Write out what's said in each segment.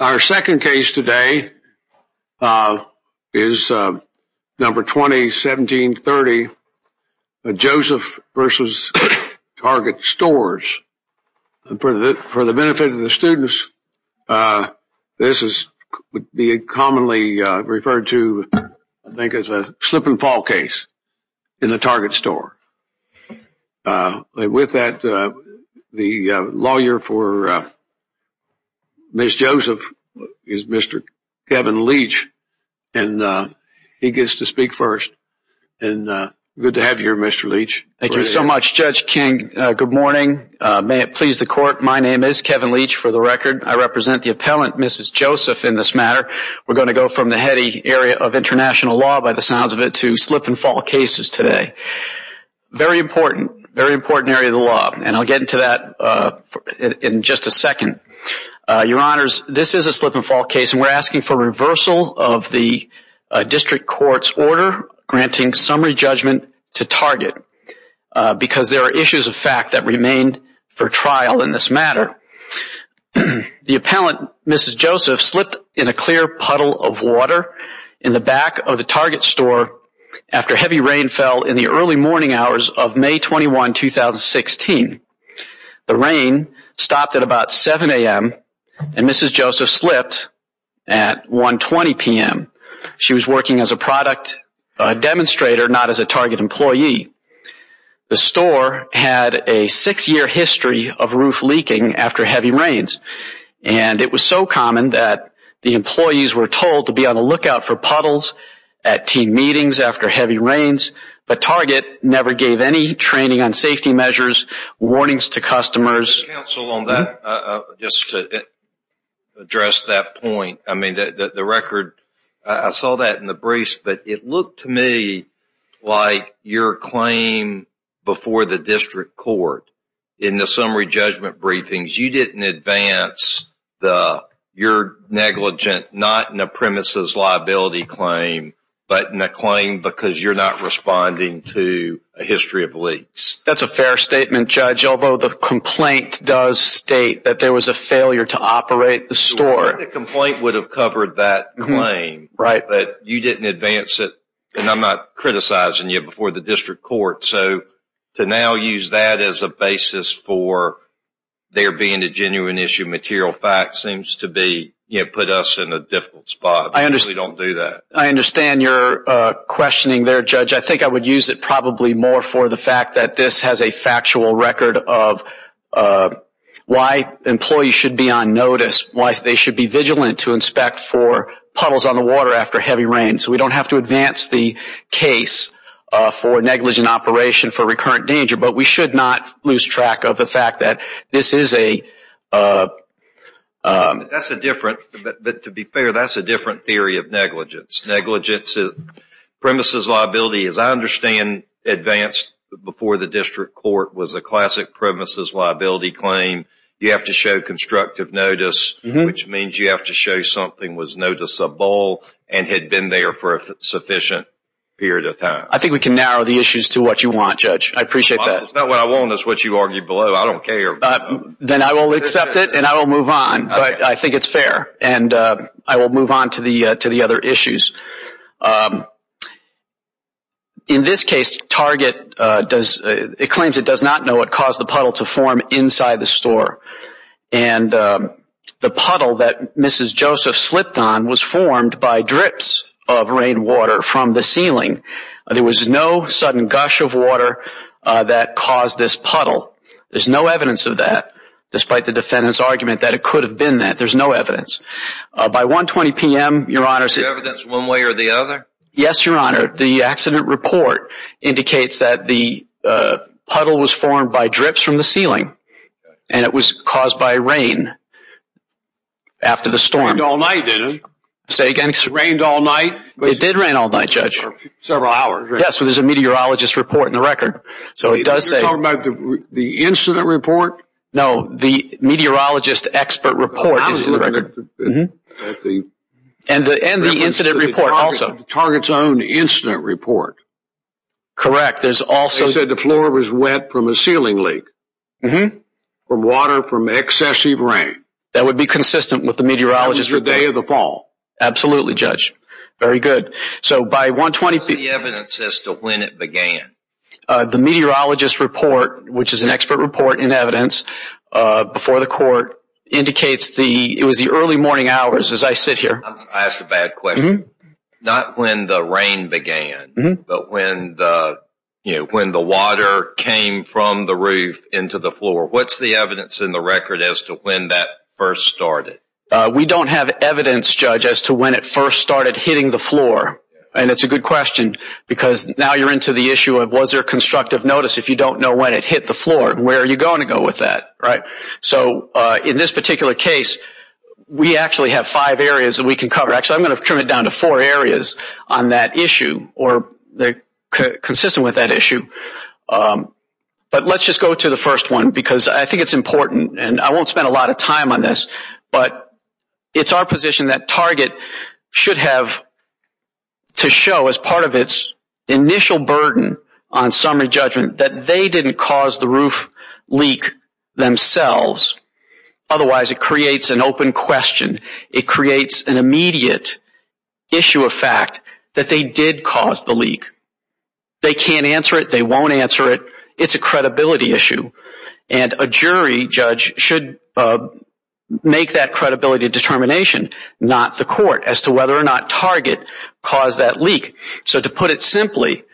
Our second case today is number 2017-30, Joseph v. Target Stores. For the benefit of the students, this is commonly referred to, I think, as a slip and fall case in the Target Store. And with that, the lawyer for Ms. Joseph is Mr. Kevin Leach, and he gets to speak first. Good to have you here, Mr. Leach. Thank you so much, Judge King. Good morning. May it please the Court, my name is Kevin Leach, for the record. I represent the appellant, Mrs. Joseph, in this matter. We're going to go from the heady area of international law, by the sounds of it, to slip and fall cases today. Very important, very important area of the law, and I'll get into that in just a second. Your Honors, this is a slip and fall case, and we're asking for reversal of the district court's order granting summary judgment to Target, because there are issues of fact that remain for trial in this matter. The appellant, Mrs. Joseph, slipped in a clear puddle of water in the back of the Target Store after heavy rain fell in the early morning hours of May 21, 2016. The rain stopped at about 7 a.m., and Mrs. Joseph slipped at 1.20 p.m. She was working as a product demonstrator, not as a Target employee. The store had a six-year history of roof leaking after heavy rains, and it was so common that the employees were told to be on the lookout for puddles at team meetings after heavy rains, but Target never gave any training on safety measures, warnings to customers. Counsel, on that, just to address that point, I mean, the record, I saw that in the briefs, but it looked to me like your claim before the district court in the summary judgment briefings, you didn't advance your negligent not-in-a-premises liability claim, but in a claim because you're not responding to a history of leaks. That's a fair statement, Judge, although the complaint does state that there was a failure to operate the store. I think the complaint would have covered that claim, but you didn't advance it, and I'm not criticizing you before the district court, so to now use that as a basis for there being a genuine issue of material facts seems to put us in a difficult spot. We really don't do that. I understand your questioning there, Judge. I think I would use it probably more for the fact that this has a factual record of why employees should be on notice, why they should be vigilant to inspect for puddles on the water after heavy rain, so we don't have to advance the case for negligent operation for recurrent danger, but we should not lose track of the fact that this is a… That's a different, but to be fair, that's a different theory of negligence. Negligence of premises liability, as I understand, advanced before the district court was a classic premises liability claim. You have to show constructive notice, which means you have to show something was noticeable and had been there for a sufficient period of time. I think we can narrow the issues to what you want, Judge. I appreciate that. It's not what I want. It's what you argued below. I don't care. Then I will accept it, and I will move on, but I think it's fair, and I will move on to the other issues. In this case, Target does… It claims it does not know what caused the puddle to form inside the store, and the puddle that Mrs. Joseph slipped on was formed by drips of rainwater from the ceiling. There was no sudden gush of water that caused this puddle. There's no evidence of that, despite the defendant's argument that it could have been that. There's no evidence. By 1.20 p.m., Your Honors… There's no evidence one way or the other? Yes, Your Honor. The accident report indicates that the puddle was formed by drips from the ceiling, and it was caused by rain after the storm. It rained all night, didn't it? Say again? It rained all night? It did rain all night, Judge. Several hours, right? Yes, but there's a meteorologist report in the record, so it does say… You're talking about the incident report? No, the meteorologist expert report is in the record. And the incident report also. The target's own incident report. Correct. They said the floor was wet from a ceiling leak, from water from excessive rain. That would be consistent with the meteorologist report. That was the day of the fall. Absolutely, Judge. Very good. So, by 1.20 p.m.… What's the evidence as to when it began? The meteorologist report, which is an expert report in evidence, before the court, indicates it was the early morning hours as I sit here. I was going to ask a bad question. Not when the rain began, but when the water came from the roof into the floor. What's the evidence in the record as to when that first started? We don't have evidence, Judge, as to when it first started hitting the floor. And it's a good question because now you're into the issue of was there constructive notice if you don't know when it hit the floor and where you're going to go with that. So, in this particular case, we actually have five areas that we can cover. Actually, I'm going to trim it down to four areas on that issue or consistent with that issue. But let's just go to the first one because I think it's important, and I won't spend a lot of time on this, but it's our position that Target should have to show as part of its initial burden on summary judgment that they didn't cause the roof leak themselves. Otherwise, it creates an open question. It creates an immediate issue of fact that they did cause the leak. They can't answer it. They won't answer it. It's a credibility issue. And a jury, Judge, should make that credibility determination, not the court, as to whether or not Target caused that leak. So, to put it simply,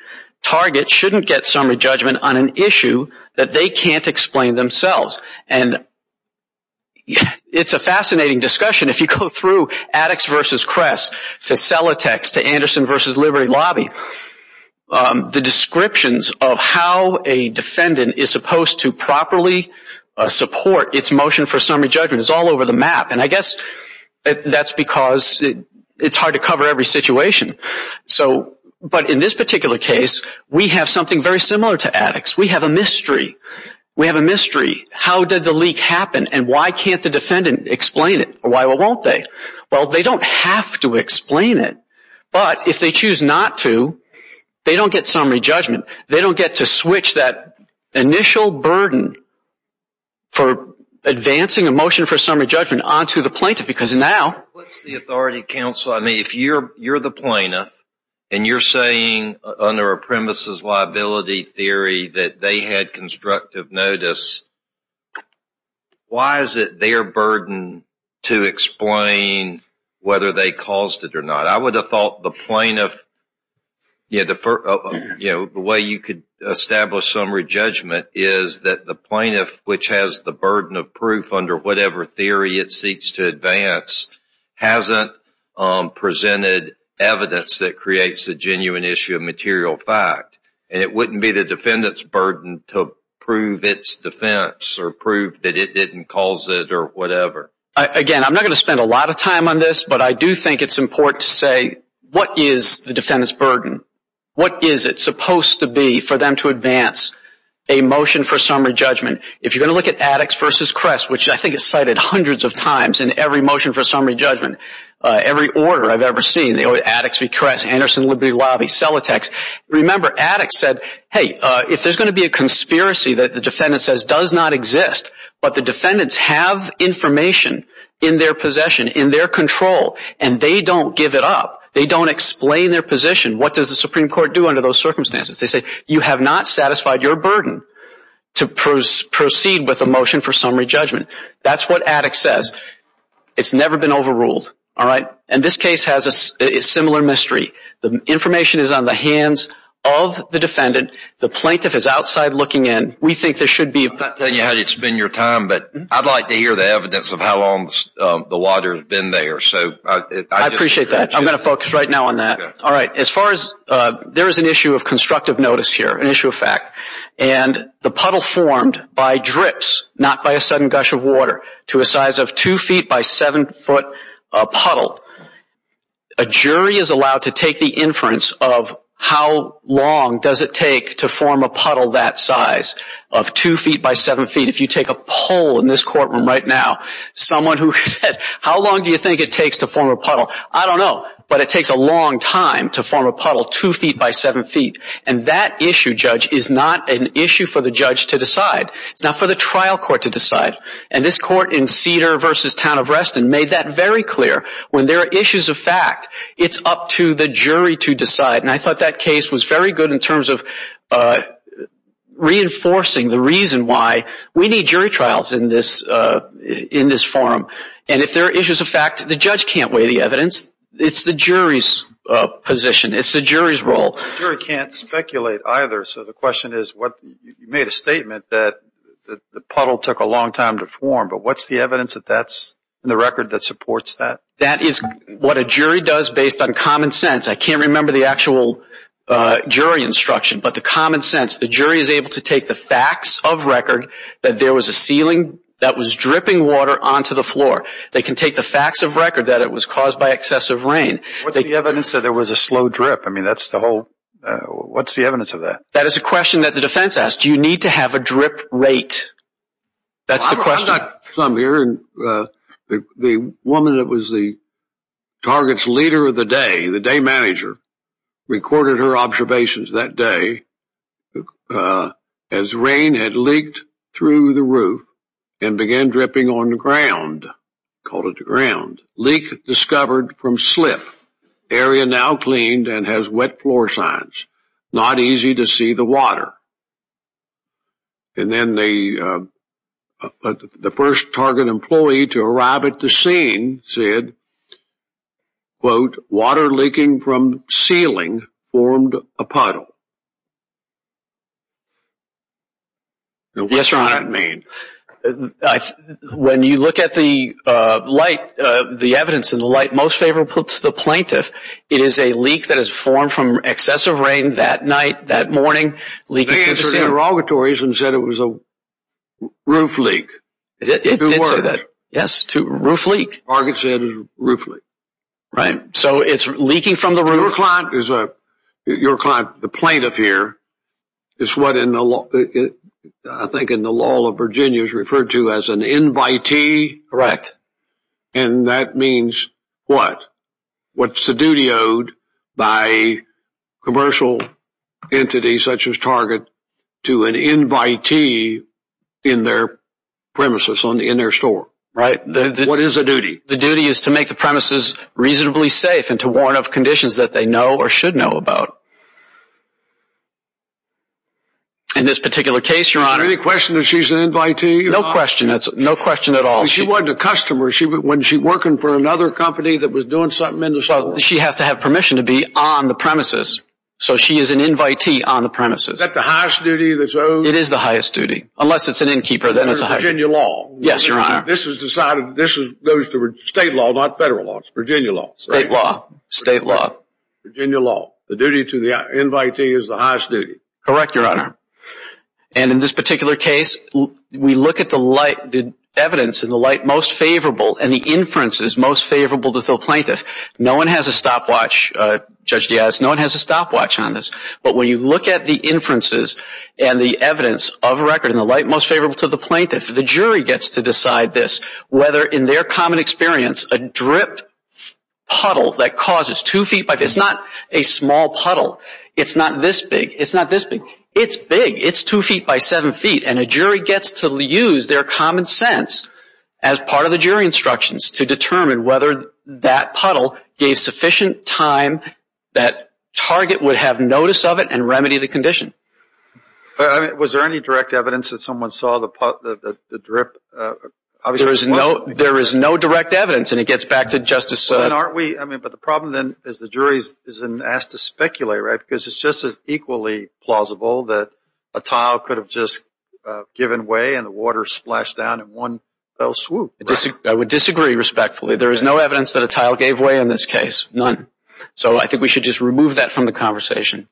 Target shouldn't get summary judgment on an issue that they can't explain themselves. And it's a fascinating discussion. If you go through Addix v. Kress to Celatex to Anderson v. Liberty Lobby, the descriptions of how a defendant is supposed to properly support its motion for summary judgment is all over the map. And I guess that's because it's hard to cover every situation. So, but in this particular case, we have something very similar to Addix. We have a mystery. We have a mystery. How did the leak happen, and why can't the defendant explain it? Why won't they? Well, they don't have to explain it, but if they choose not to, they don't get summary judgment. They don't get to switch that initial burden for advancing a motion for summary judgment onto the plaintiff, What's the authority, counsel? I mean, if you're the plaintiff, and you're saying under a premises liability theory that they had constructive notice, why is it their burden to explain whether they caused it or not? I would have thought the plaintiff, you know, the way you could establish summary judgment is that the plaintiff, which has the burden of proof under whatever theory it seeks to advance, hasn't presented evidence that creates a genuine issue of material fact. And it wouldn't be the defendant's burden to prove its defense or prove that it didn't cause it or whatever. Again, I'm not going to spend a lot of time on this, but I do think it's important to say what is the defendant's burden? What is it supposed to be for them to advance a motion for summary judgment? If you're going to look at Addix v. Kress, which I think is cited hundreds of times in every motion for summary judgment, every order I've ever seen, Addix v. Kress, Anderson Liberty Lobby, Celotex. Remember, Addix said, hey, if there's going to be a conspiracy that the defendant says does not exist, but the defendants have information in their possession, in their control, and they don't give it up, they don't explain their position, what does the Supreme Court do under those circumstances? They say, you have not satisfied your burden to proceed with a motion for summary judgment. That's what Addix says. It's never been overruled, all right? And this case has a similar mystery. The information is on the hands of the defendant. The plaintiff is outside looking in. We think there should be – I'm not telling you how to spend your time, but I'd like to hear the evidence of how long the water has been there. I appreciate that. I'm going to focus right now on that. All right. As far as – there is an issue of constructive notice here, an issue of fact. And the puddle formed by drips, not by a sudden gush of water, to a size of 2 feet by 7 foot puddle. A jury is allowed to take the inference of how long does it take to form a puddle that size of 2 feet by 7 feet. If you take a poll in this courtroom right now, someone who says, how long do you think it takes to form a puddle? I don't know, but it takes a long time to form a puddle 2 feet by 7 feet. And that issue, Judge, is not an issue for the judge to decide. It's not for the trial court to decide. And this court in Cedar v. Town of Reston made that very clear. When there are issues of fact, it's up to the jury to decide. And I thought that case was very good in terms of reinforcing the reason why we need jury trials in this forum. And if there are issues of fact, the judge can't weigh the evidence. It's the jury's position. It's the jury's role. The jury can't speculate either. So the question is, you made a statement that the puddle took a long time to form. But what's the evidence that's in the record that supports that? That is what a jury does based on common sense. I can't remember the actual jury instruction, but the common sense. The jury is able to take the facts of record that there was a ceiling that was dripping water onto the floor. They can take the facts of record that it was caused by excessive rain. What's the evidence that there was a slow drip? I mean, that's the whole—what's the evidence of that? That is a question that the defense asked. Do you need to have a drip rate? That's the question. I've got some here. The woman that was the target's leader of the day, the day manager, recorded her observations that day. As rain had leaked through the roof and began dripping on the ground, called it the ground, leak discovered from slip, area now cleaned and has wet floor signs. Not easy to see the water. And then the first target employee to arrive at the scene said, quote, water leaking from ceiling formed a puddle. Now what does that mean? Yes, Your Honor. When you look at the light, the evidence in the light most favorable to the plaintiff, it is a leak that has formed from excessive rain that night, that morning. They answered interrogatories and said it was a roof leak. It did say that. Yes, roof leak. Target said roof leak. Right. So it's leaking from the roof. Your client, the plaintiff here, is what I think in the law of Virginia is referred to as an invitee. Correct. And that means what? What's the duty owed by commercial entities such as Target to an invitee in their premises, in their store? Right. What is the duty? The duty is to make the premises reasonably safe and to warn of conditions that they know or should know about. In this particular case, Your Honor. Is there any question that she's an invitee? No question. No question at all. She wasn't a customer. Wasn't she working for another company that was doing something in the store? She has to have permission to be on the premises. So she is an invitee on the premises. Is that the highest duty that's owed? It is the highest duty. Unless it's an innkeeper, then it's the highest. This is Virginia law. Yes, Your Honor. This goes to state law, not federal law. It's Virginia law. State law. State law. Virginia law. The duty to the invitee is the highest duty. Correct, Your Honor. And in this particular case, we look at the evidence in the light most favorable and the inferences most favorable to the plaintiff. No one has a stopwatch, Judge Diaz. No one has a stopwatch on this. But when you look at the inferences and the evidence of a record in the light most favorable to the plaintiff, the jury gets to decide this, whether in their common experience, a dripped puddle that causes two feet by two feet. It's not a small puddle. It's not this big. It's not this big. It's big. It's two feet by seven feet, and a jury gets to use their common sense as part of the jury instructions to determine whether that puddle gave sufficient time that target would have notice of it and remedy the condition. Was there any direct evidence that someone saw the drip? There is no direct evidence, and it gets back to Justice Sotomayor. But the problem then is the jury is asked to speculate, right, because it's just as equally plausible that a tile could have just given way and the water splashed down in one fell swoop. I would disagree respectfully. There is no evidence that a tile gave way in this case, none. So I think we should just remove that from the conversation.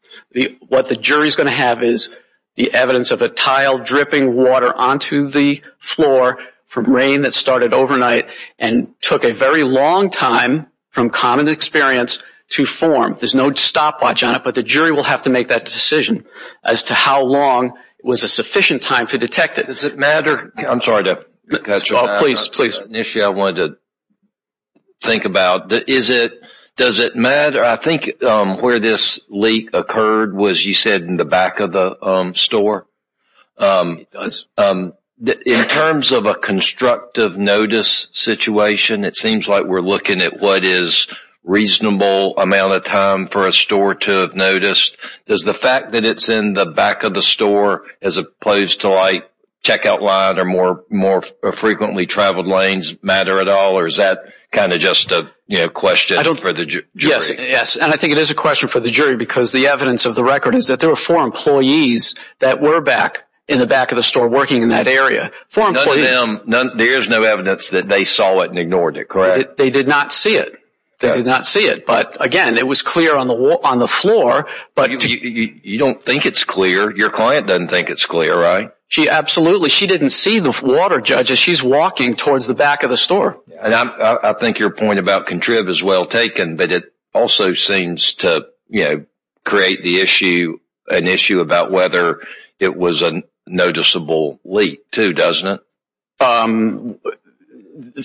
What the jury is going to have is the evidence of a tile dripping water onto the floor from rain that started overnight and took a very long time from common experience to form. There's no stopwatch on it, but the jury will have to make that decision as to how long was a sufficient time to detect it. Does it matter? I'm sorry to cut you off. It's an issue I wanted to think about. Does it matter? I think where this leak occurred was, you said, in the back of the store. It does. It seems like we're looking at what is a reasonable amount of time for a store to have noticed. Does the fact that it's in the back of the store as opposed to a checkout line or more frequently traveled lanes matter at all, or is that kind of just a question for the jury? Yes, and I think it is a question for the jury, because the evidence of the record is that there were four employees that were back in the back of the store working in that area. There is no evidence that they saw it and ignored it, correct? They did not see it. Again, it was clear on the floor. You don't think it's clear. Your client doesn't think it's clear, right? Absolutely. She didn't see the water, Judge. She's walking towards the back of the store. I think your point about contrib is well taken, but it also seems to create an issue about whether it was a noticeable leak too, doesn't it?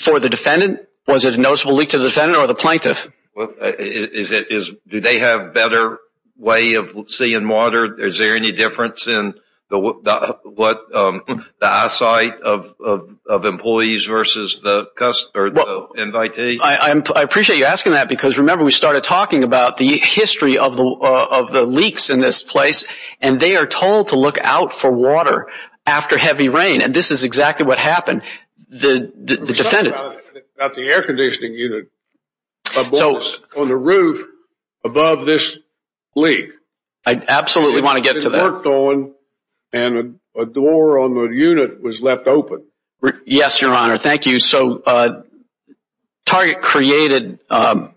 For the defendant? Was it a noticeable leak to the defendant or the plaintiff? Do they have a better way of seeing water? Is there any difference in the eyesight of employees versus the invitee? I appreciate you asking that, because remember, we started talking about the history of the leaks in this place, and they are told to look out for water after heavy rain, and this is exactly what happened. The defendant… About the air conditioning unit. So… On the roof above this leak. I absolutely want to get to that. It worked on, and a door on the unit was left open. Yes, Your Honor. Thank you. So Target created… Well,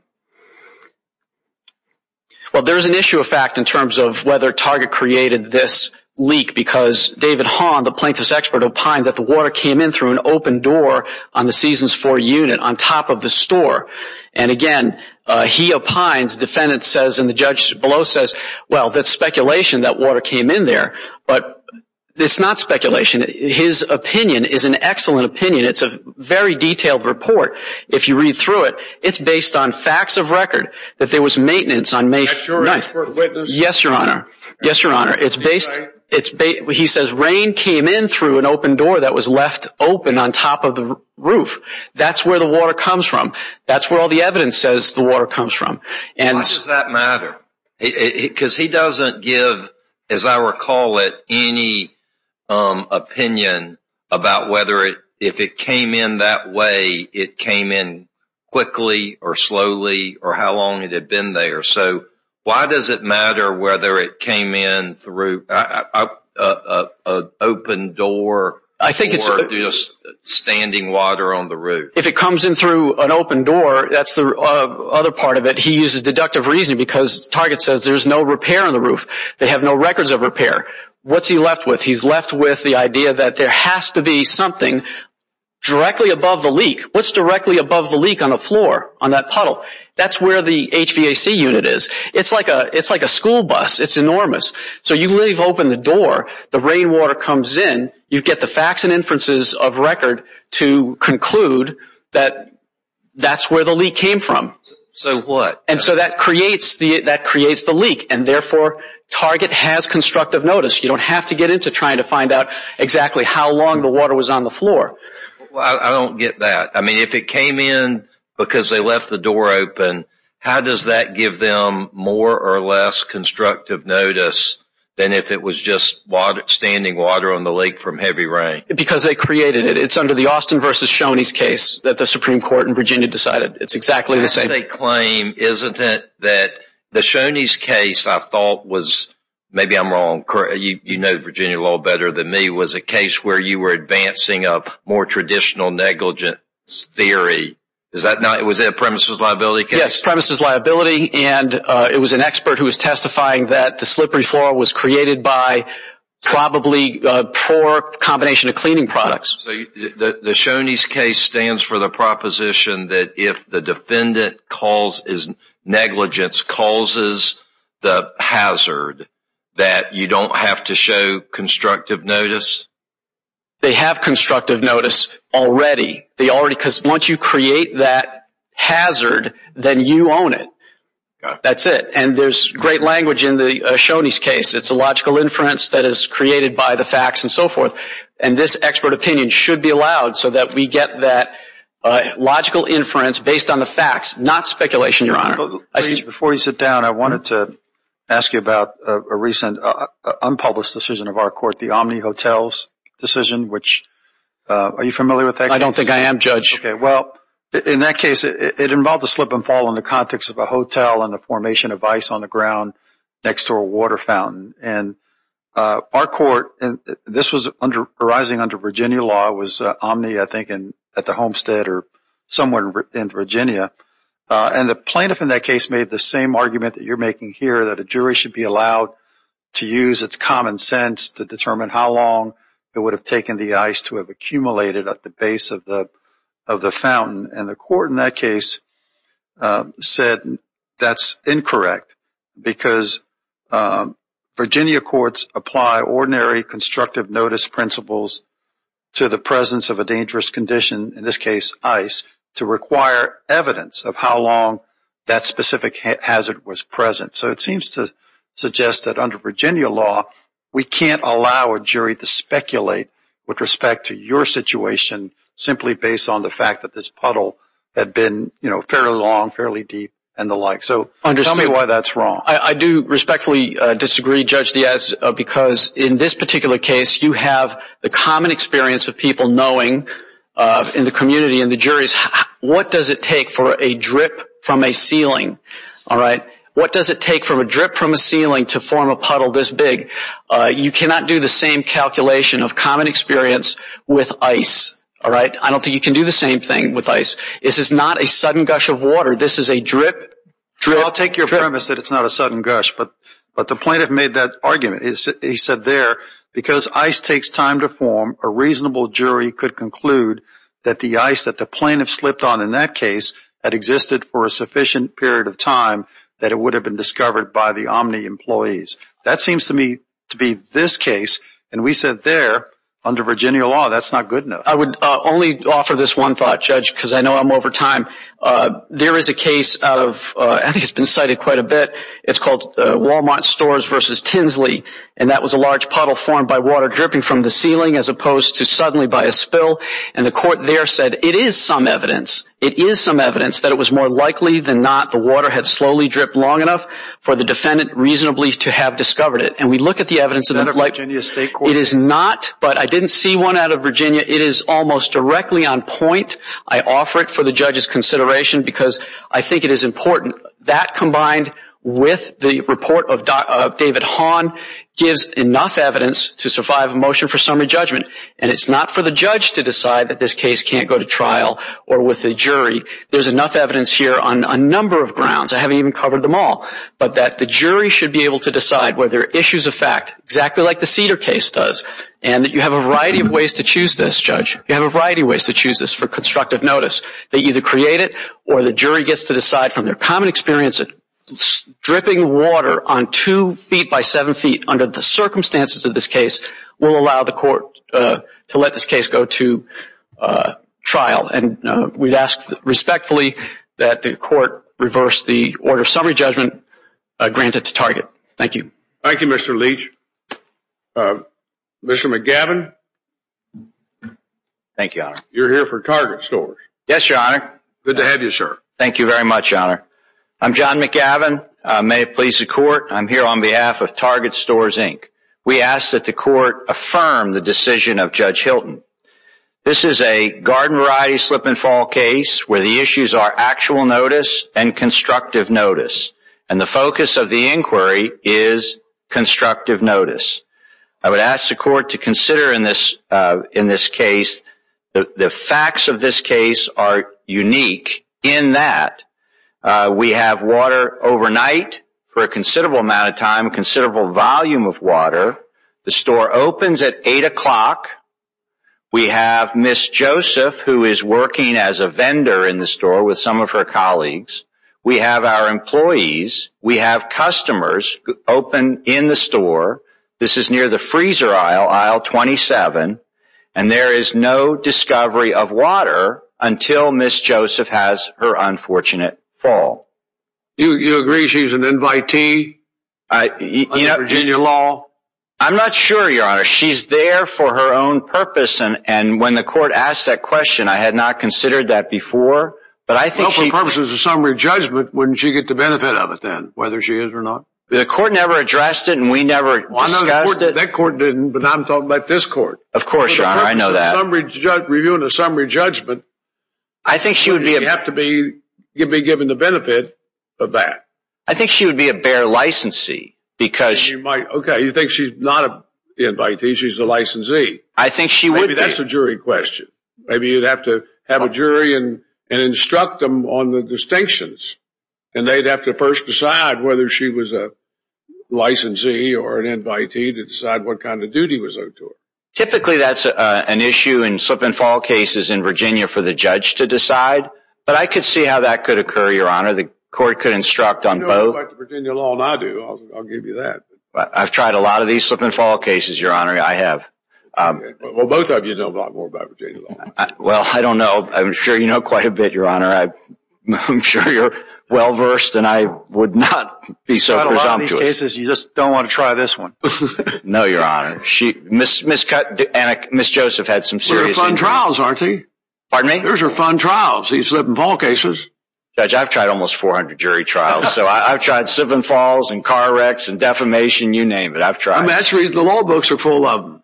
there's an issue of fact in terms of whether Target created this leak, because David Hahn, the plaintiff's expert, opined that the water came in through an open door on the Seasons 4 unit on top of the store. And again, he opines, defendant says, and the judge below says, well, that's speculation that water came in there. But it's not speculation. His opinion is an excellent opinion. It's a very detailed report. If you read through it, it's based on facts of record that there was maintenance on May 9th. Is that your expert witness? Yes, Your Honor. Yes, Your Honor. He says rain came in through an open door that was left open on top of the roof. That's where the water comes from. That's where all the evidence says the water comes from. Why does that matter? Because he doesn't give, as I recall it, any opinion about whether if it came in that way, it came in quickly or slowly or how long it had been there. So why does it matter whether it came in through an open door or standing water on the roof? If it comes in through an open door, that's the other part of it. He uses deductive reasoning because the target says there's no repair on the roof. They have no records of repair. What's he left with? He's left with the idea that there has to be something directly above the leak. What's directly above the leak on the floor, on that puddle? That's where the HVAC unit is. It's like a school bus. It's enormous. So you leave open the door. The rainwater comes in. You get the facts and inferences of record to conclude that that's where the leak came from. So what? That creates the leak. Therefore, target has constructive notice. You don't have to get into trying to find out exactly how long the water was on the floor. I don't get that. If it came in because they left the door open, how does that give them more or less constructive notice than if it was just standing water on the leak from heavy rain? Because they created it. It's under the Austin v. Shoney's case that the Supreme Court in Virginia decided. It's exactly the same. That's a claim, isn't it, that the Shoney's case I thought was – maybe I'm wrong. You know Virginia law better than me. It was a case where you were advancing a more traditional negligence theory. Was it a premises liability case? Yes, premises liability. It was an expert who was testifying that the slippery floor was created by probably a poor combination of cleaning products. So the Shoney's case stands for the proposition that if the defendant negligence causes the hazard, that you don't have to show constructive notice? They have constructive notice already. Because once you create that hazard, then you own it. That's it. And there's great language in the Shoney's case. It's a logical inference that is created by the facts and so forth. And this expert opinion should be allowed so that we get that logical inference based on the facts, not speculation, Your Honor. Before you sit down, I wanted to ask you about a recent unpublished decision of our court, the Omni Hotels decision, which – are you familiar with that? I don't think I am, Judge. Well, in that case, it involved a slip and fall in the context of a hotel and the formation of ice on the ground next to a water fountain. And our court – and this was arising under Virginia law. It was Omni, I think, at the Homestead or somewhere in Virginia. And the plaintiff in that case made the same argument that you're making here, that a jury should be allowed to use its common sense to determine how long it would have taken the ice to have accumulated at the base of the fountain. And the court in that case said that's incorrect because Virginia courts apply ordinary constructive notice principles to the presence of a dangerous condition, in this case ice, to require evidence of how long that specific hazard was present. So it seems to suggest that under Virginia law, we can't allow a jury to speculate with respect to your situation simply based on the fact that this puddle had been fairly long, fairly deep, and the like. So tell me why that's wrong. I do respectfully disagree, Judge Diaz, because in this particular case, you have the common experience of people knowing in the community and the juries, what does it take for a drip from a ceiling, all right? What does it take for a drip from a ceiling to form a puddle this big? You cannot do the same calculation of common experience with ice, all right? I don't think you can do the same thing with ice. This is not a sudden gush of water. This is a drip, drip, drip. Well, I'll take your premise that it's not a sudden gush, but the plaintiff made that argument. He said there, because ice takes time to form, a reasonable jury could conclude that the ice that the plaintiff slipped on in that case had existed for a sufficient period of time that it would have been discovered by the Omni employees. That seems to me to be this case, and we said there, under Virginia law, that's not good enough. I would only offer this one thought, Judge, because I know I'm over time. There is a case out of – I think it's been cited quite a bit. It's called Wal-Mart Stores v. Tinsley, and that was a large puddle formed by water dripping from the ceiling as opposed to suddenly by a spill. And the court there said it is some evidence. It is some evidence that it was more likely than not the water had slowly dripped long enough for the defendant reasonably to have discovered it. And we look at the evidence and it's like – Is that a Virginia state court? It is not, but I didn't see one out of Virginia. It is almost directly on point. I offer it for the judge's consideration because I think it is important. That combined with the report of David Hahn gives enough evidence to survive a motion for summary judgment. And it's not for the judge to decide that this case can't go to trial or with a jury. There's enough evidence here on a number of grounds. I haven't even covered them all. But that the jury should be able to decide whether issues affect exactly like the Cedar case does and that you have a variety of ways to choose this, Judge. You have a variety of ways to choose this for constructive notice. They either create it or the jury gets to decide from their common experience that dripping water on two feet by seven feet under the circumstances of this case will allow the court to let this case go to trial. And we'd ask respectfully that the court reverse the order of summary judgment granted to Target. Thank you. Thank you, Mr. Leach. Mr. McGavin. Thank you, Your Honor. You're here for Target Stores. Yes, Your Honor. Good to have you, sir. Thank you very much, Your Honor. I'm John McGavin. May it please the court, I'm here on behalf of Target Stores, Inc. We ask that the court affirm the decision of Judge Hilton. This is a garden variety slip-and-fall case where the issues are actual notice and constructive notice, and the focus of the inquiry is constructive notice. I would ask the court to consider in this case the facts of this case are unique in that we have water overnight for a considerable amount of time, a considerable volume of water. The store opens at 8 o'clock. We have Ms. Joseph, who is working as a vendor in the store with some of her colleagues. We have our employees. We have customers open in the store. This is near the freezer aisle, aisle 27. And there is no discovery of water until Ms. Joseph has her unfortunate fall. You agree she's an invitee under Virginia law? I'm not sure, Your Honor. She's there for her own purpose, and when the court asked that question, I had not considered that before. But I think she... Well, for purposes of summary judgment, wouldn't she get the benefit of it then, whether she is or not? The court never addressed it, and we never discussed it. That court didn't, but I'm talking about this court. Of course, Your Honor, I know that. Reviewing a summary judgment, she would have to be given the benefit of that. I think she would be a bare licensee because... Okay, you think she's not an invitee, she's a licensee. I think she would be. Maybe that's a jury question. Maybe you'd have to have a jury and instruct them on the distinctions, and they'd have to first decide whether she was a licensee or an invitee to decide what kind of duty was owed to her. Typically, that's an issue in slip-and-fall cases in Virginia for the judge to decide, but I could see how that could occur, Your Honor. The court could instruct on both. You know a lot about the Virginia law than I do. I'll give you that. I've tried a lot of these slip-and-fall cases, Your Honor. I have. Well, both of you know a lot more about Virginia law. Well, I don't know. I'm sure you know quite a bit, Your Honor. I'm sure you're well-versed, and I would not be so presumptuous. You've tried a lot of these cases. You just don't want to try this one. No, Your Honor. Ms. Joseph had some serious injuries. They're fun trials, aren't they? Pardon me? Those are fun trials, these slip-and-fall cases. Judge, I've tried almost 400 jury trials. I've tried slip-and-falls and car wrecks and defamation. You name it, I've tried it. That's the reason the law books are full of them.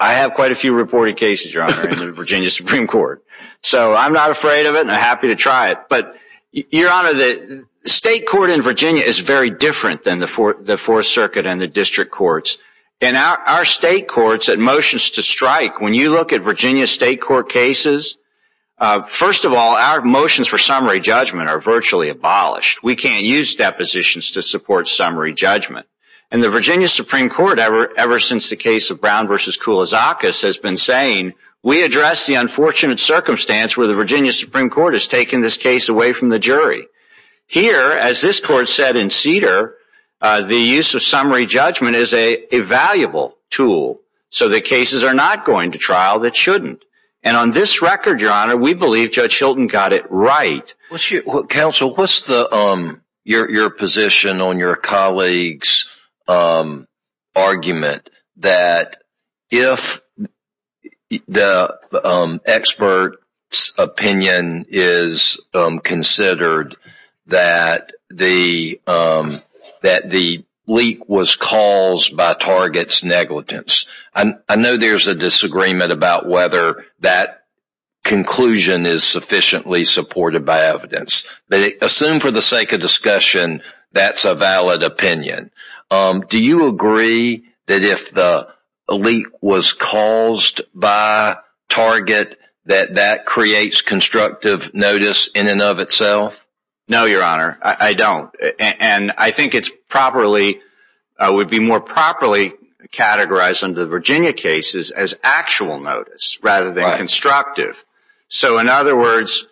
I have quite a few reported cases, Your Honor, in the Virginia Supreme Court. So I'm not afraid of it, and I'm happy to try it. But, Your Honor, the state court in Virginia is very different than the Fourth Circuit and the district courts. And our state courts, at motions to strike, when you look at Virginia state court cases, first of all, our motions for summary judgment are virtually abolished. We can't use depositions to support summary judgment. And the Virginia Supreme Court, ever since the case of Brown v. Koulizakas, has been saying, we address the unfortunate circumstance where the Virginia Supreme Court has taken this case away from the jury. Here, as this court said in Cedar, the use of summary judgment is a valuable tool, so that cases are not going to trial that shouldn't. And on this record, Your Honor, we believe Judge Hilton got it right. Counsel, what's your position on your colleague's argument that if the expert's opinion is considered, that the leak was caused by target's negligence? I know there's a disagreement about whether that conclusion is sufficiently supported by evidence. But assume, for the sake of discussion, that's a valid opinion. Do you agree that if the leak was caused by target, that that creates constructive notice in and of itself? No, Your Honor, I don't. And I think it would be more properly categorized under the Virginia cases as actual notice rather than constructive. So in other words,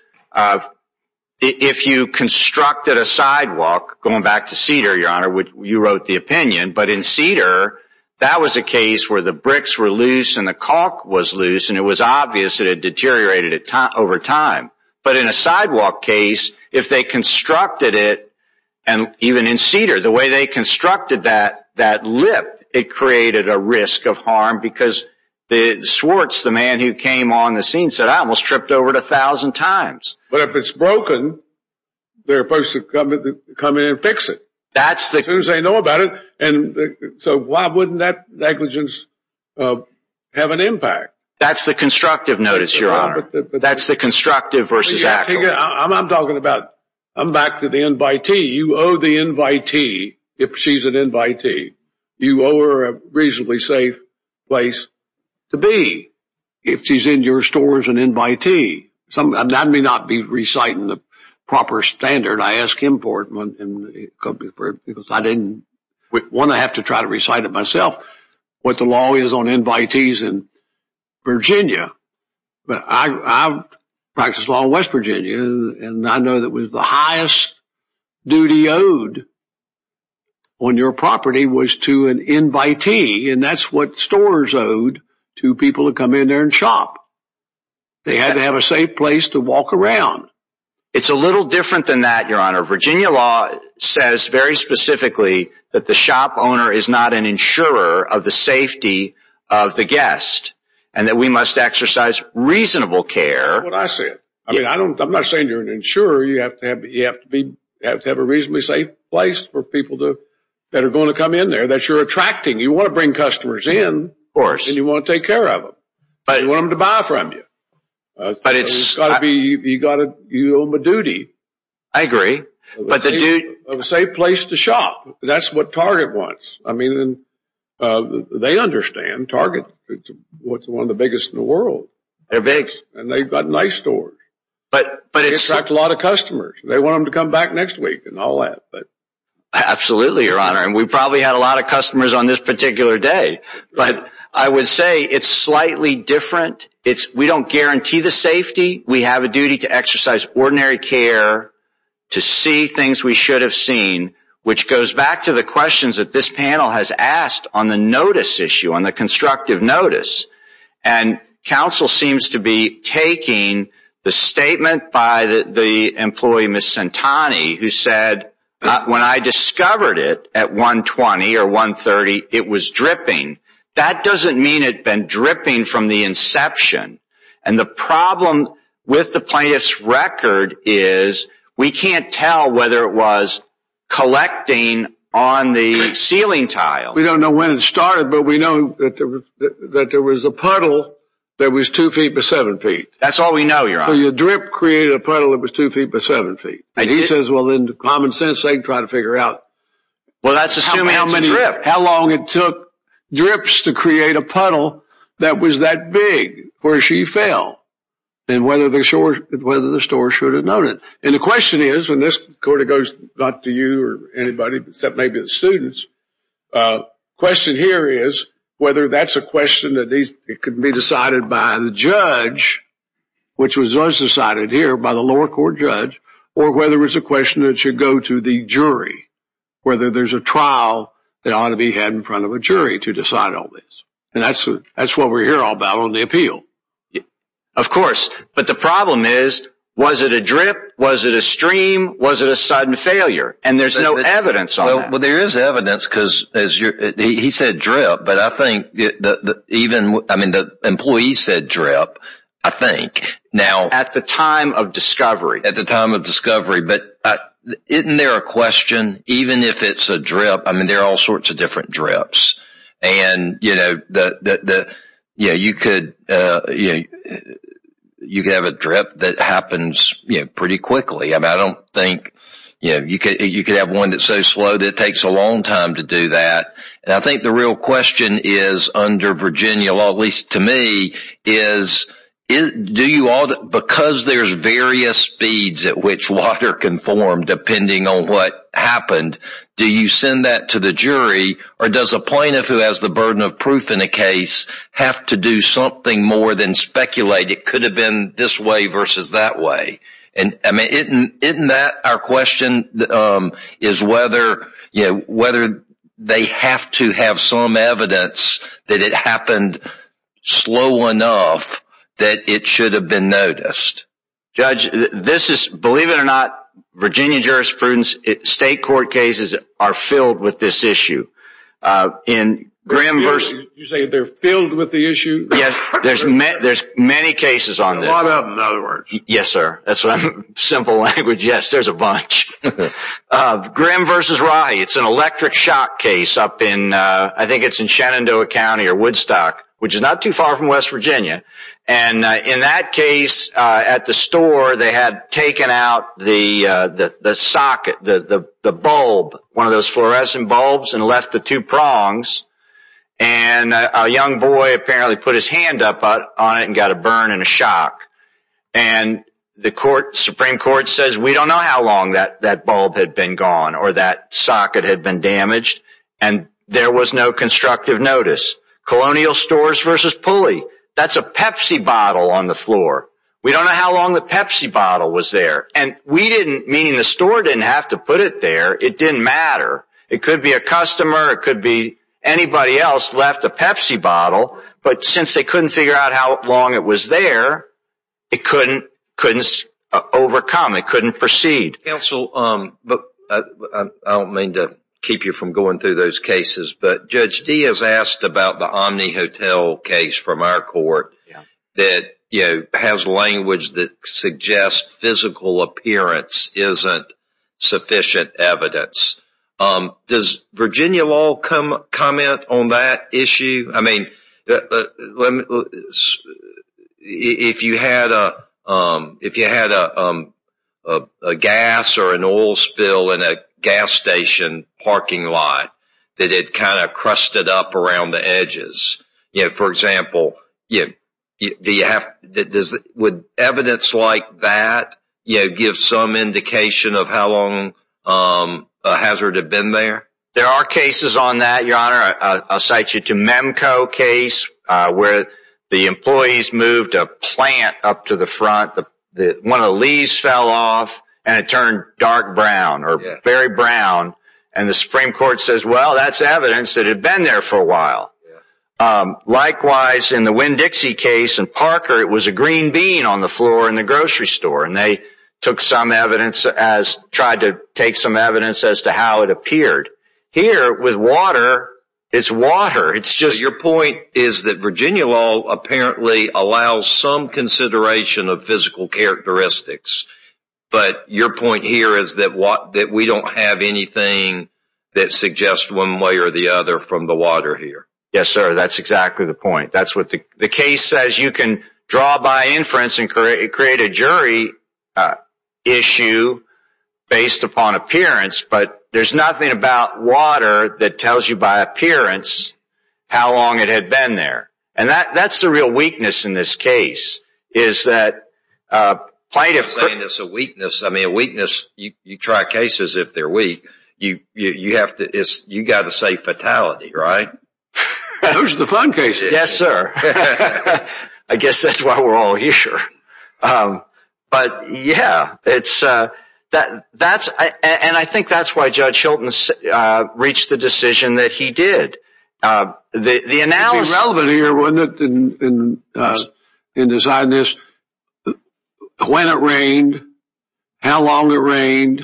if you constructed a sidewalk, going back to Cedar, Your Honor, you wrote the opinion. But in Cedar, that was a case where the bricks were loose and the caulk was loose, and it was obvious that it deteriorated over time. But in a sidewalk case, if they constructed it, and even in Cedar, the way they constructed that lip, it created a risk of harm because the man who came on the scene said, I almost tripped over it a thousand times. But if it's broken, they're supposed to come in and fix it. As soon as they know about it. So why wouldn't that negligence have an impact? That's the constructive notice, Your Honor. That's the constructive versus actual. I'm talking about, I'm back to the invitee. You owe the invitee if she's an invitee. You owe her a reasonably safe place to be if she's in your store as an invitee. I may not be reciting the proper standard. I ask him for it because I didn't want to have to try to recite it myself what the law is on invitees in Virginia. But I practice law in West Virginia, and I know that was the highest duty owed on your property was to an invitee. And that's what stores owed to people who come in there and shop. They had to have a safe place to walk around. It's a little different than that, Your Honor. Virginia law says very specifically that the shop owner is not an insurer of the safety of the guest and that we must exercise reasonable care. That's what I said. I'm not saying you're an insurer. You have to have a reasonably safe place for people that are going to come in there that you're attracting. You want to bring customers in, and you want to take care of them. You want them to buy from you. You owe them a duty. I agree. A safe place to shop. That's what Target wants. They understand Target is one of the biggest in the world. They're big. And they've got nice stores. They attract a lot of customers. They want them to come back next week and all that. Absolutely, Your Honor. And we probably had a lot of customers on this particular day. But I would say it's slightly different. We don't guarantee the safety. We have a duty to exercise ordinary care to see things we should have seen, which goes back to the questions that this panel has asked on the notice issue, on the constructive notice. And counsel seems to be taking the statement by the employee, Ms. Santani, who said, when I discovered it at 120 or 130, it was dripping. That doesn't mean it had been dripping from the inception. And the problem with the plaintiff's record is we can't tell whether it was collecting on the ceiling tile. We don't know when it started, but we know that there was a puddle that was 2 feet by 7 feet. That's all we know, Your Honor. So your drip created a puddle that was 2 feet by 7 feet. And he says, well, then common sense ain't trying to figure out how long it took drips to create a puddle that was that big. Where she fell and whether the store should have known it. And the question is, and this goes back to you or anybody, except maybe the students, the question here is whether that's a question that could be decided by the judge, which was decided here by the lower court judge, or whether it's a question that should go to the jury, whether there's a trial that ought to be had in front of a jury to decide all this. And that's what we're here all about on the appeal. Of course. But the problem is, was it a drip? Was it a stream? Was it a sudden failure? And there's no evidence on that. Well, there is evidence because he said drip. But I think even, I mean, the employee said drip, I think. At the time of discovery. At the time of discovery. But isn't there a question, even if it's a drip, I mean, there are all sorts of different drips. And, you know, you could have a drip that happens pretty quickly. I don't think, you know, you could have one that's so slow that it takes a long time to do that. And I think the real question is under Virginia law, at least to me, is do you all, because there's various speeds at which water can form depending on what happened, do you send that to the jury? Or does a plaintiff who has the burden of proof in a case have to do something more than speculate? It could have been this way versus that way. And, I mean, isn't that our question is whether, you know, whether they have to have some evidence that it happened slow enough that it should have been noticed. Judge, this is, believe it or not, Virginia jurisprudence, state court cases are filled with this issue. You say they're filled with the issue? Yes. There's many cases on this. A lot of them, in other words. Yes, sir. Simple language. Yes. There's a bunch. Grimm versus Rahe. It's an electric shock case up in, I think it's in Shenandoah County or Woodstock, which is not too far from West Virginia. And in that case, at the store, they had taken out the socket, the bulb, one of those fluorescent bulbs, and left the two prongs. And a young boy apparently put his hand up on it and got a burn and a shock. And the Supreme Court says, we don't know how long that bulb had been gone or that socket had been damaged. And there was no constructive notice. Colonial stores versus Pulley. That's a Pepsi bottle on the floor. We don't know how long the Pepsi bottle was there. And we didn't, meaning the store didn't have to put it there. It didn't matter. It could be a customer. It could be anybody else left a Pepsi bottle. But since they couldn't figure out how long it was there, it couldn't overcome. It couldn't proceed. Counsel, I don't mean to keep you from going through those cases, but Judge Diaz asked about the Omni Hotel case from our court that, you know, has language that suggests physical appearance isn't sufficient evidence. Does Virginia law comment on that issue? I mean, if you had a gas or an oil spill in a gas station parking lot that it kind of crusted up around the edges, for example, would evidence like that give some indication of how long a hazard had been there? There are cases on that, Your Honor. I'll cite you to Memco case where the employees moved a plant up to the front. One of the leaves fell off and it turned dark brown or very brown. And the Supreme Court says, well, that's evidence that it had been there for a while. Likewise, in the Winn-Dixie case in Parker, it was a green bean on the floor in the grocery store. And they took some evidence as tried to take some evidence as to how it appeared. Here, with water, it's water. Your point is that Virginia law apparently allows some consideration of physical characteristics. But your point here is that we don't have anything that suggests one way or the other from the water here. Yes, sir. That's exactly the point. The case says you can draw by inference and create a jury issue based upon appearance, but there's nothing about water that tells you by appearance how long it had been there. And that's the real weakness in this case. You're saying it's a weakness. You try cases if they're weak. You've got to say fatality, right? Those are the fun cases. Yes, sir. I guess that's why we're all here. But, yeah, and I think that's why Judge Hilton reached the decision that he did. It would be relevant here, wouldn't it, in deciding this, when it rained, how long it rained,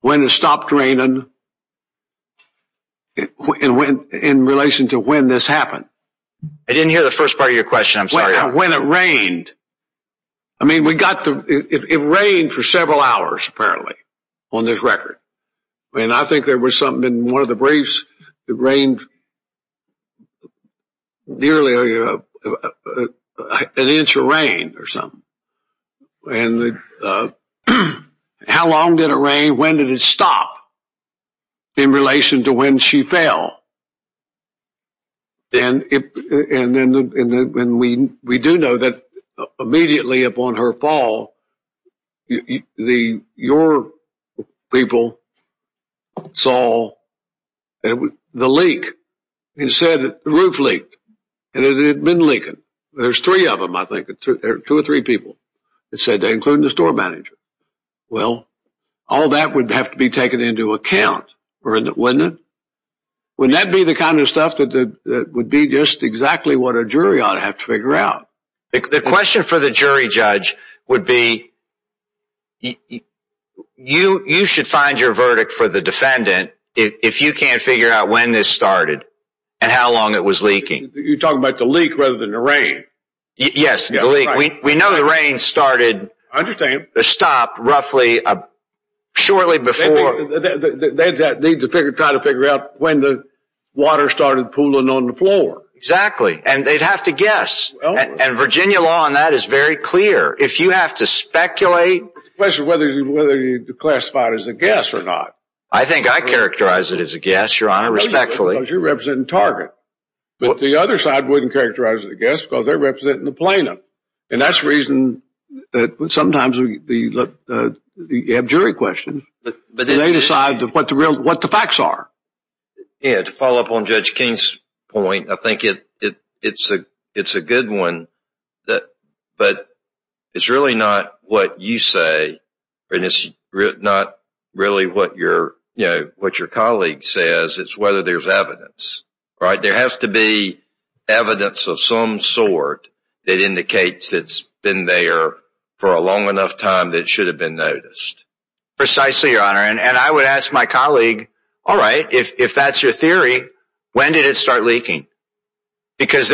when it stopped raining, in relation to when this happened. I didn't hear the first part of your question. I'm sorry. When it rained. I mean, it rained for several hours, apparently, on this record. And I think there was something in one of the briefs that rained nearly an inch of rain or something. And how long did it rain? When did it stop in relation to when she fell? And we do know that immediately upon her fall, your people saw the leak. It said the roof leaked. And it had been leaking. There's three of them, I think. There are two or three people that said that, including the store manager. Well, all that would have to be taken into account, wouldn't it? Wouldn't that be the kind of stuff that would be just exactly what a jury ought to have to figure out? The question for the jury judge would be, you should find your verdict for the defendant if you can't figure out when this started and how long it was leaking. You're talking about the leak rather than the rain. Yes, the leak. We know the rain started. I understand. It stopped roughly shortly before. They need to try to figure out when the water started pooling on the floor. Exactly. And they'd have to guess. And Virginia law on that is very clear. If you have to speculate. The question is whether you classify it as a guess or not. I think I characterize it as a guess, Your Honor, respectfully. Because you're representing Target. But the other side wouldn't characterize it as a guess because they're representing the plaintiff. And that's the reason that sometimes you have jury questions. They decide what the facts are. To follow up on Judge King's point, I think it's a good one. But it's really not what you say. It's not really what your colleague says. It's whether there's evidence. There has to be evidence of some sort that indicates it's been there for a long enough time that it should have been noticed. Precisely, Your Honor. And I would ask my colleague, all right, if that's your theory, when did it start leaking? Because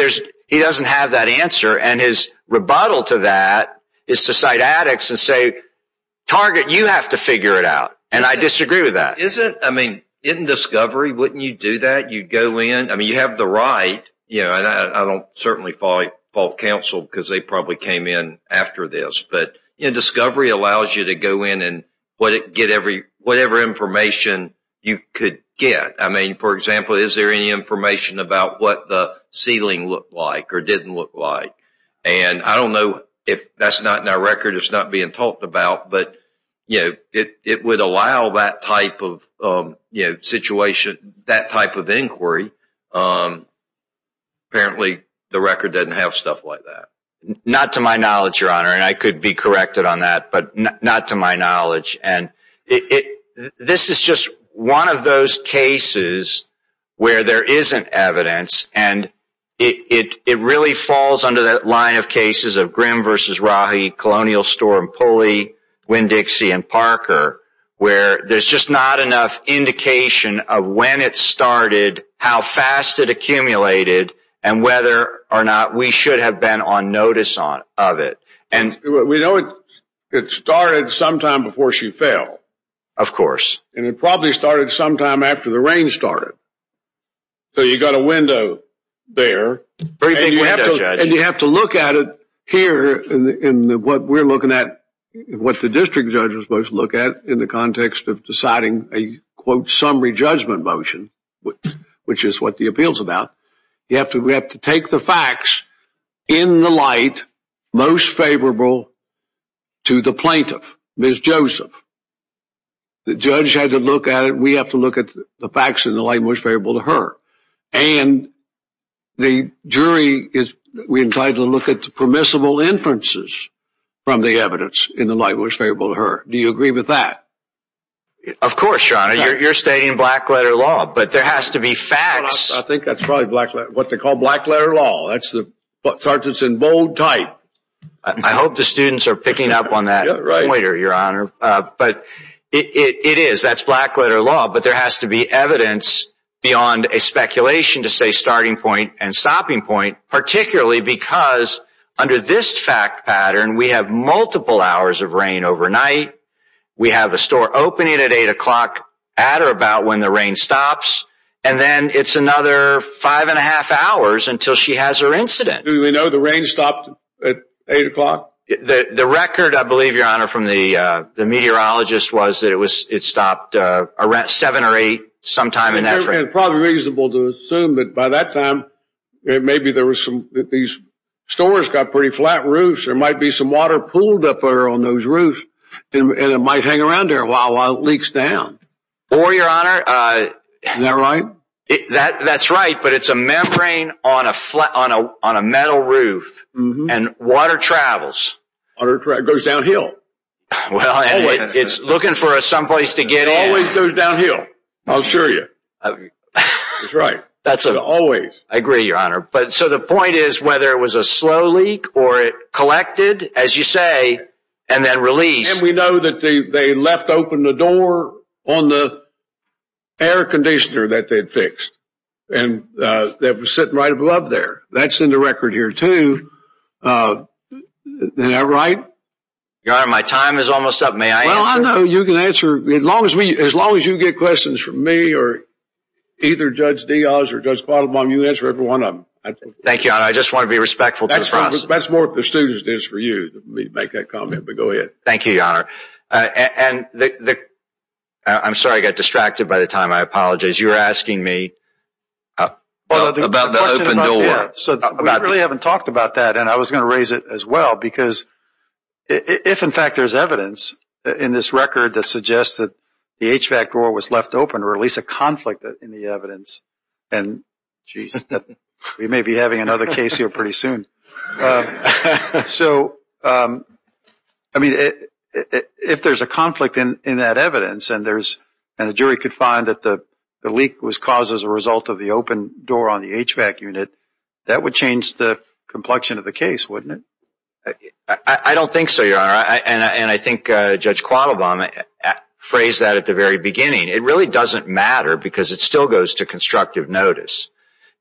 he doesn't have that answer. And his rebuttal to that is to cite addicts and say, Target, you have to figure it out. And I disagree with that. Isn't, I mean, in discovery, wouldn't you do that? You'd go in. I mean, you have the right. I don't certainly fall counsel because they probably came in after this. But discovery allows you to go in and get whatever information you could get. I mean, for example, is there any information about what the ceiling looked like or didn't look like? And I don't know if that's not in our record. It's not being talked about. But, you know, it would allow that type of situation, that type of inquiry. Apparently, the record doesn't have stuff like that. Not to my knowledge, Your Honor, and I could be corrected on that, but not to my knowledge. And this is just one of those cases where there isn't evidence. And it really falls under that line of cases of Grimm versus Rahi, Colonial Storm Pulley, Winn-Dixie and Parker, where there's just not enough indication of when it started, how fast it accumulated, and whether or not we should have been on notice of it. We know it started sometime before she fell. Of course. And it probably started sometime after the rain started. So you've got a window there. Very big window, Judge. And you have to look at it here in what we're looking at, what the district judges most look at, in the context of deciding a, quote, summary judgment motion, which is what the appeal's about. We have to take the facts in the light most favorable to the plaintiff, Ms. Joseph. The judge had to look at it. We have to look at the facts in the light most favorable to her. And the jury is entitled to look at the permissible inferences from the evidence in the light most favorable to her. Do you agree with that? Of course, Your Honor. You're stating black-letter law, but there has to be facts. I think that's probably what they call black-letter law. That's the sergeants in bold type. I hope the students are picking up on that pointer, Your Honor. But it is. That's black-letter law. But there has to be evidence beyond a speculation to say starting point and stopping point, particularly because under this fact pattern, we have multiple hours of rain overnight. We have a store opening at 8 o'clock at or about when the rain stops. And then it's another five and a half hours until she has her incident. Do we know the rain stopped at 8 o'clock? The record, I believe, Your Honor, from the meteorologist was that it stopped at 7 or 8 sometime in that rain. It's probably reasonable to assume that by that time, maybe these stores got pretty flat roofs. There might be some water pooled up there on those roofs, and it might hang around there while it leaks down. Or, Your Honor. Isn't that right? That's right, but it's a membrane on a metal roof, and water travels. Water goes downhill. Well, it's looking for someplace to get in. It always goes downhill, I assure you. That's right. Always. I agree, Your Honor. So the point is whether it was a slow leak or it collected, as you say, and then released. And we know that they left open the door on the air conditioner that they had fixed. And that was sitting right above there. That's in the record here, too. Your Honor, my time is almost up. May I answer? Well, I know you can answer. As long as you get questions from me or either Judge Diaz or Judge Padelbaum, you answer every one of them. Thank you, Your Honor. I just want to be respectful to the press. That's more if the student is for you to make that comment. But go ahead. Thank you, Your Honor. I'm sorry I got distracted by the time. I apologize. You were asking me about the open door. We really haven't talked about that, and I was going to raise it as well. Because if, in fact, there's evidence in this record that suggests that the HVAC door was left open, or at least a conflict in the evidence, and, geez, we may be having another case here pretty soon. So, I mean, if there's a conflict in that evidence and the jury could find that the leak was caused as a result of the open door on the HVAC unit, that would change the complexion of the case, wouldn't it? I don't think so, Your Honor. And I think Judge Quattlebaum phrased that at the very beginning. It really doesn't matter because it still goes to constructive notice.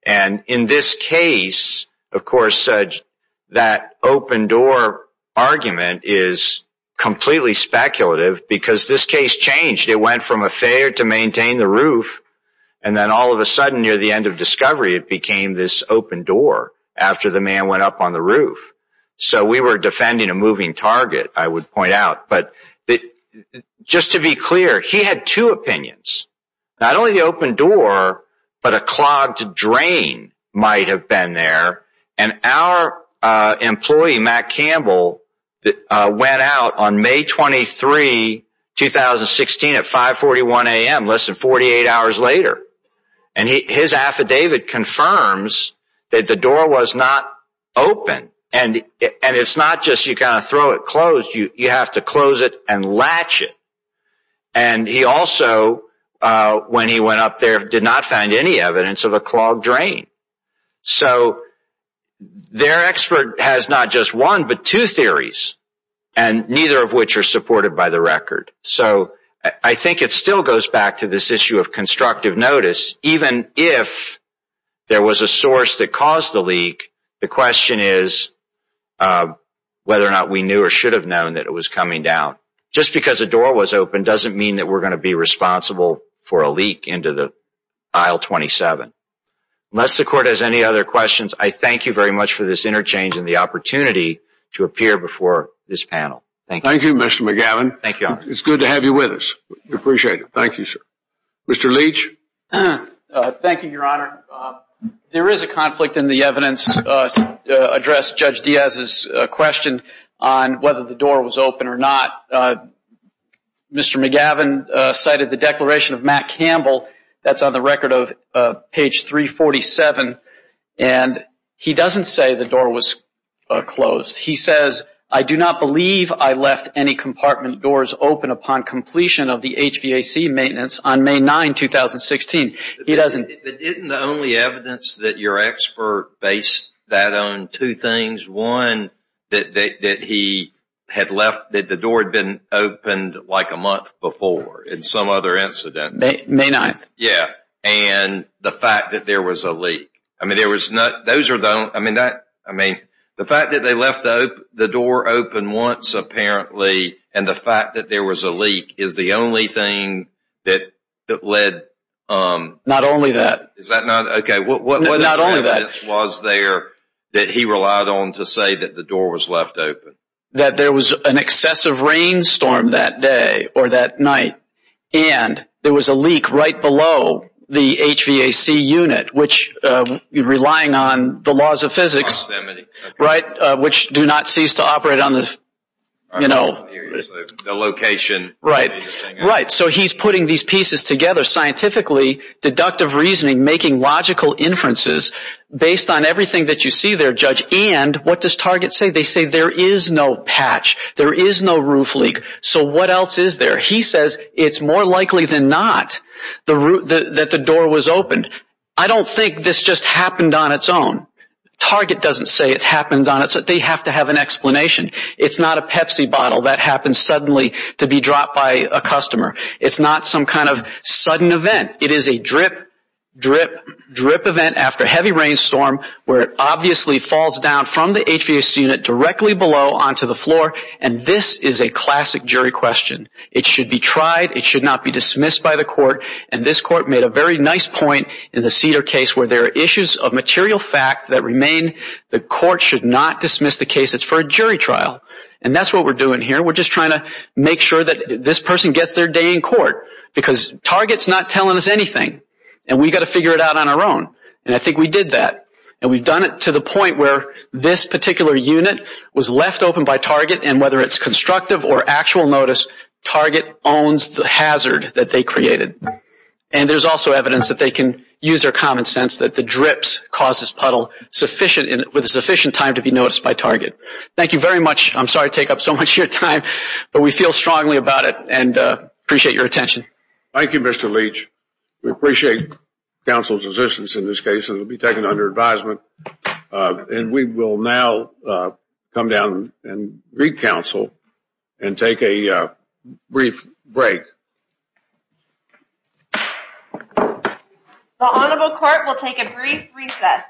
And in this case, of course, that open door argument is completely speculative because this case changed. It went from a failure to maintain the roof, and then all of a sudden, near the end of discovery, it became this open door after the man went up on the roof. So we were defending a moving target, I would point out. But just to be clear, he had two opinions. Not only the open door, but a clogged drain might have been there. And our employee, Matt Campbell, went out on May 23, 2016, at 5.41 a.m., less than 48 hours later. And his affidavit confirms that the door was not open. And it's not just you kind of throw it closed. You have to close it and latch it. And he also, when he went up there, did not find any evidence of a clogged drain. So their expert has not just one, but two theories, and neither of which are supported by the record. So I think it still goes back to this issue of constructive notice. Even if there was a source that caused the leak, the question is whether or not we knew or should have known that it was coming down. Just because a door was open doesn't mean that we're going to be responsible for a leak into the Aisle 27. Unless the Court has any other questions, I thank you very much for this interchange and the opportunity to appear before this panel. Thank you. Thank you, Mr. McGavin. Thank you, Your Honor. It's good to have you with us. We appreciate it. Thank you, sir. Mr. Leach. Thank you, Your Honor. There is a conflict in the evidence to address Judge Diaz's question on whether the door was open or not. Mr. McGavin cited the declaration of Matt Campbell. That's on the record of page 347. And he doesn't say the door was closed. He says, I do not believe I left any compartment doors open upon completion of the HVAC maintenance on May 9, 2016. He doesn't. But isn't the only evidence that your expert based that on two things? One, that the door had been opened like a month before in some other incident. May 9th. Yeah. And the fact that there was a leak. I mean, the fact that they left the door open once, apparently, and the fact that there was a leak is the only thing that led… Not only that. Not only that. What other evidence was there that he relied on to say that the door was left open? That there was an excessive rainstorm that day or that night, and there was a leak right below the HVAC unit, which, relying on the laws of physics, which do not cease to operate on the, you know… The location. Right. So he's putting these pieces together scientifically, deductive reasoning, making logical inferences based on everything that you see there, Judge. And what does Target say? They say there is no patch. There is no roof leak. So what else is there? He says it's more likely than not that the door was opened. I don't think this just happened on its own. Target doesn't say it happened on its own. They have to have an explanation. It's not a Pepsi bottle that happens suddenly to be dropped by a customer. It's not some kind of sudden event. It is a drip, drip, drip event after a heavy rainstorm where it obviously falls down from the HVAC unit directly below onto the floor. And this is a classic jury question. It should be tried. It should not be dismissed by the court. And this court made a very nice point in the Cedar case where there are issues of material fact that remain. The court should not dismiss the case. It's for a jury trial. And that's what we're doing here. We're just trying to make sure that this person gets their day in court because Target is not telling us anything. And we've got to figure it out on our own. And I think we did that. And we've done it to the point where this particular unit was left open by Target. And whether it's constructive or actual notice, Target owns the hazard that they created. And there's also evidence that they can use their common sense that the drips cause this puddle with sufficient time to be noticed by Target. Thank you very much. I'm sorry to take up so much of your time. But we feel strongly about it and appreciate your attention. Thank you, Mr. Leach. We appreciate counsel's assistance in this case. It will be taken under advisement. And we will now come down and recounsel and take a brief break. The Honorable Court will take a brief recess.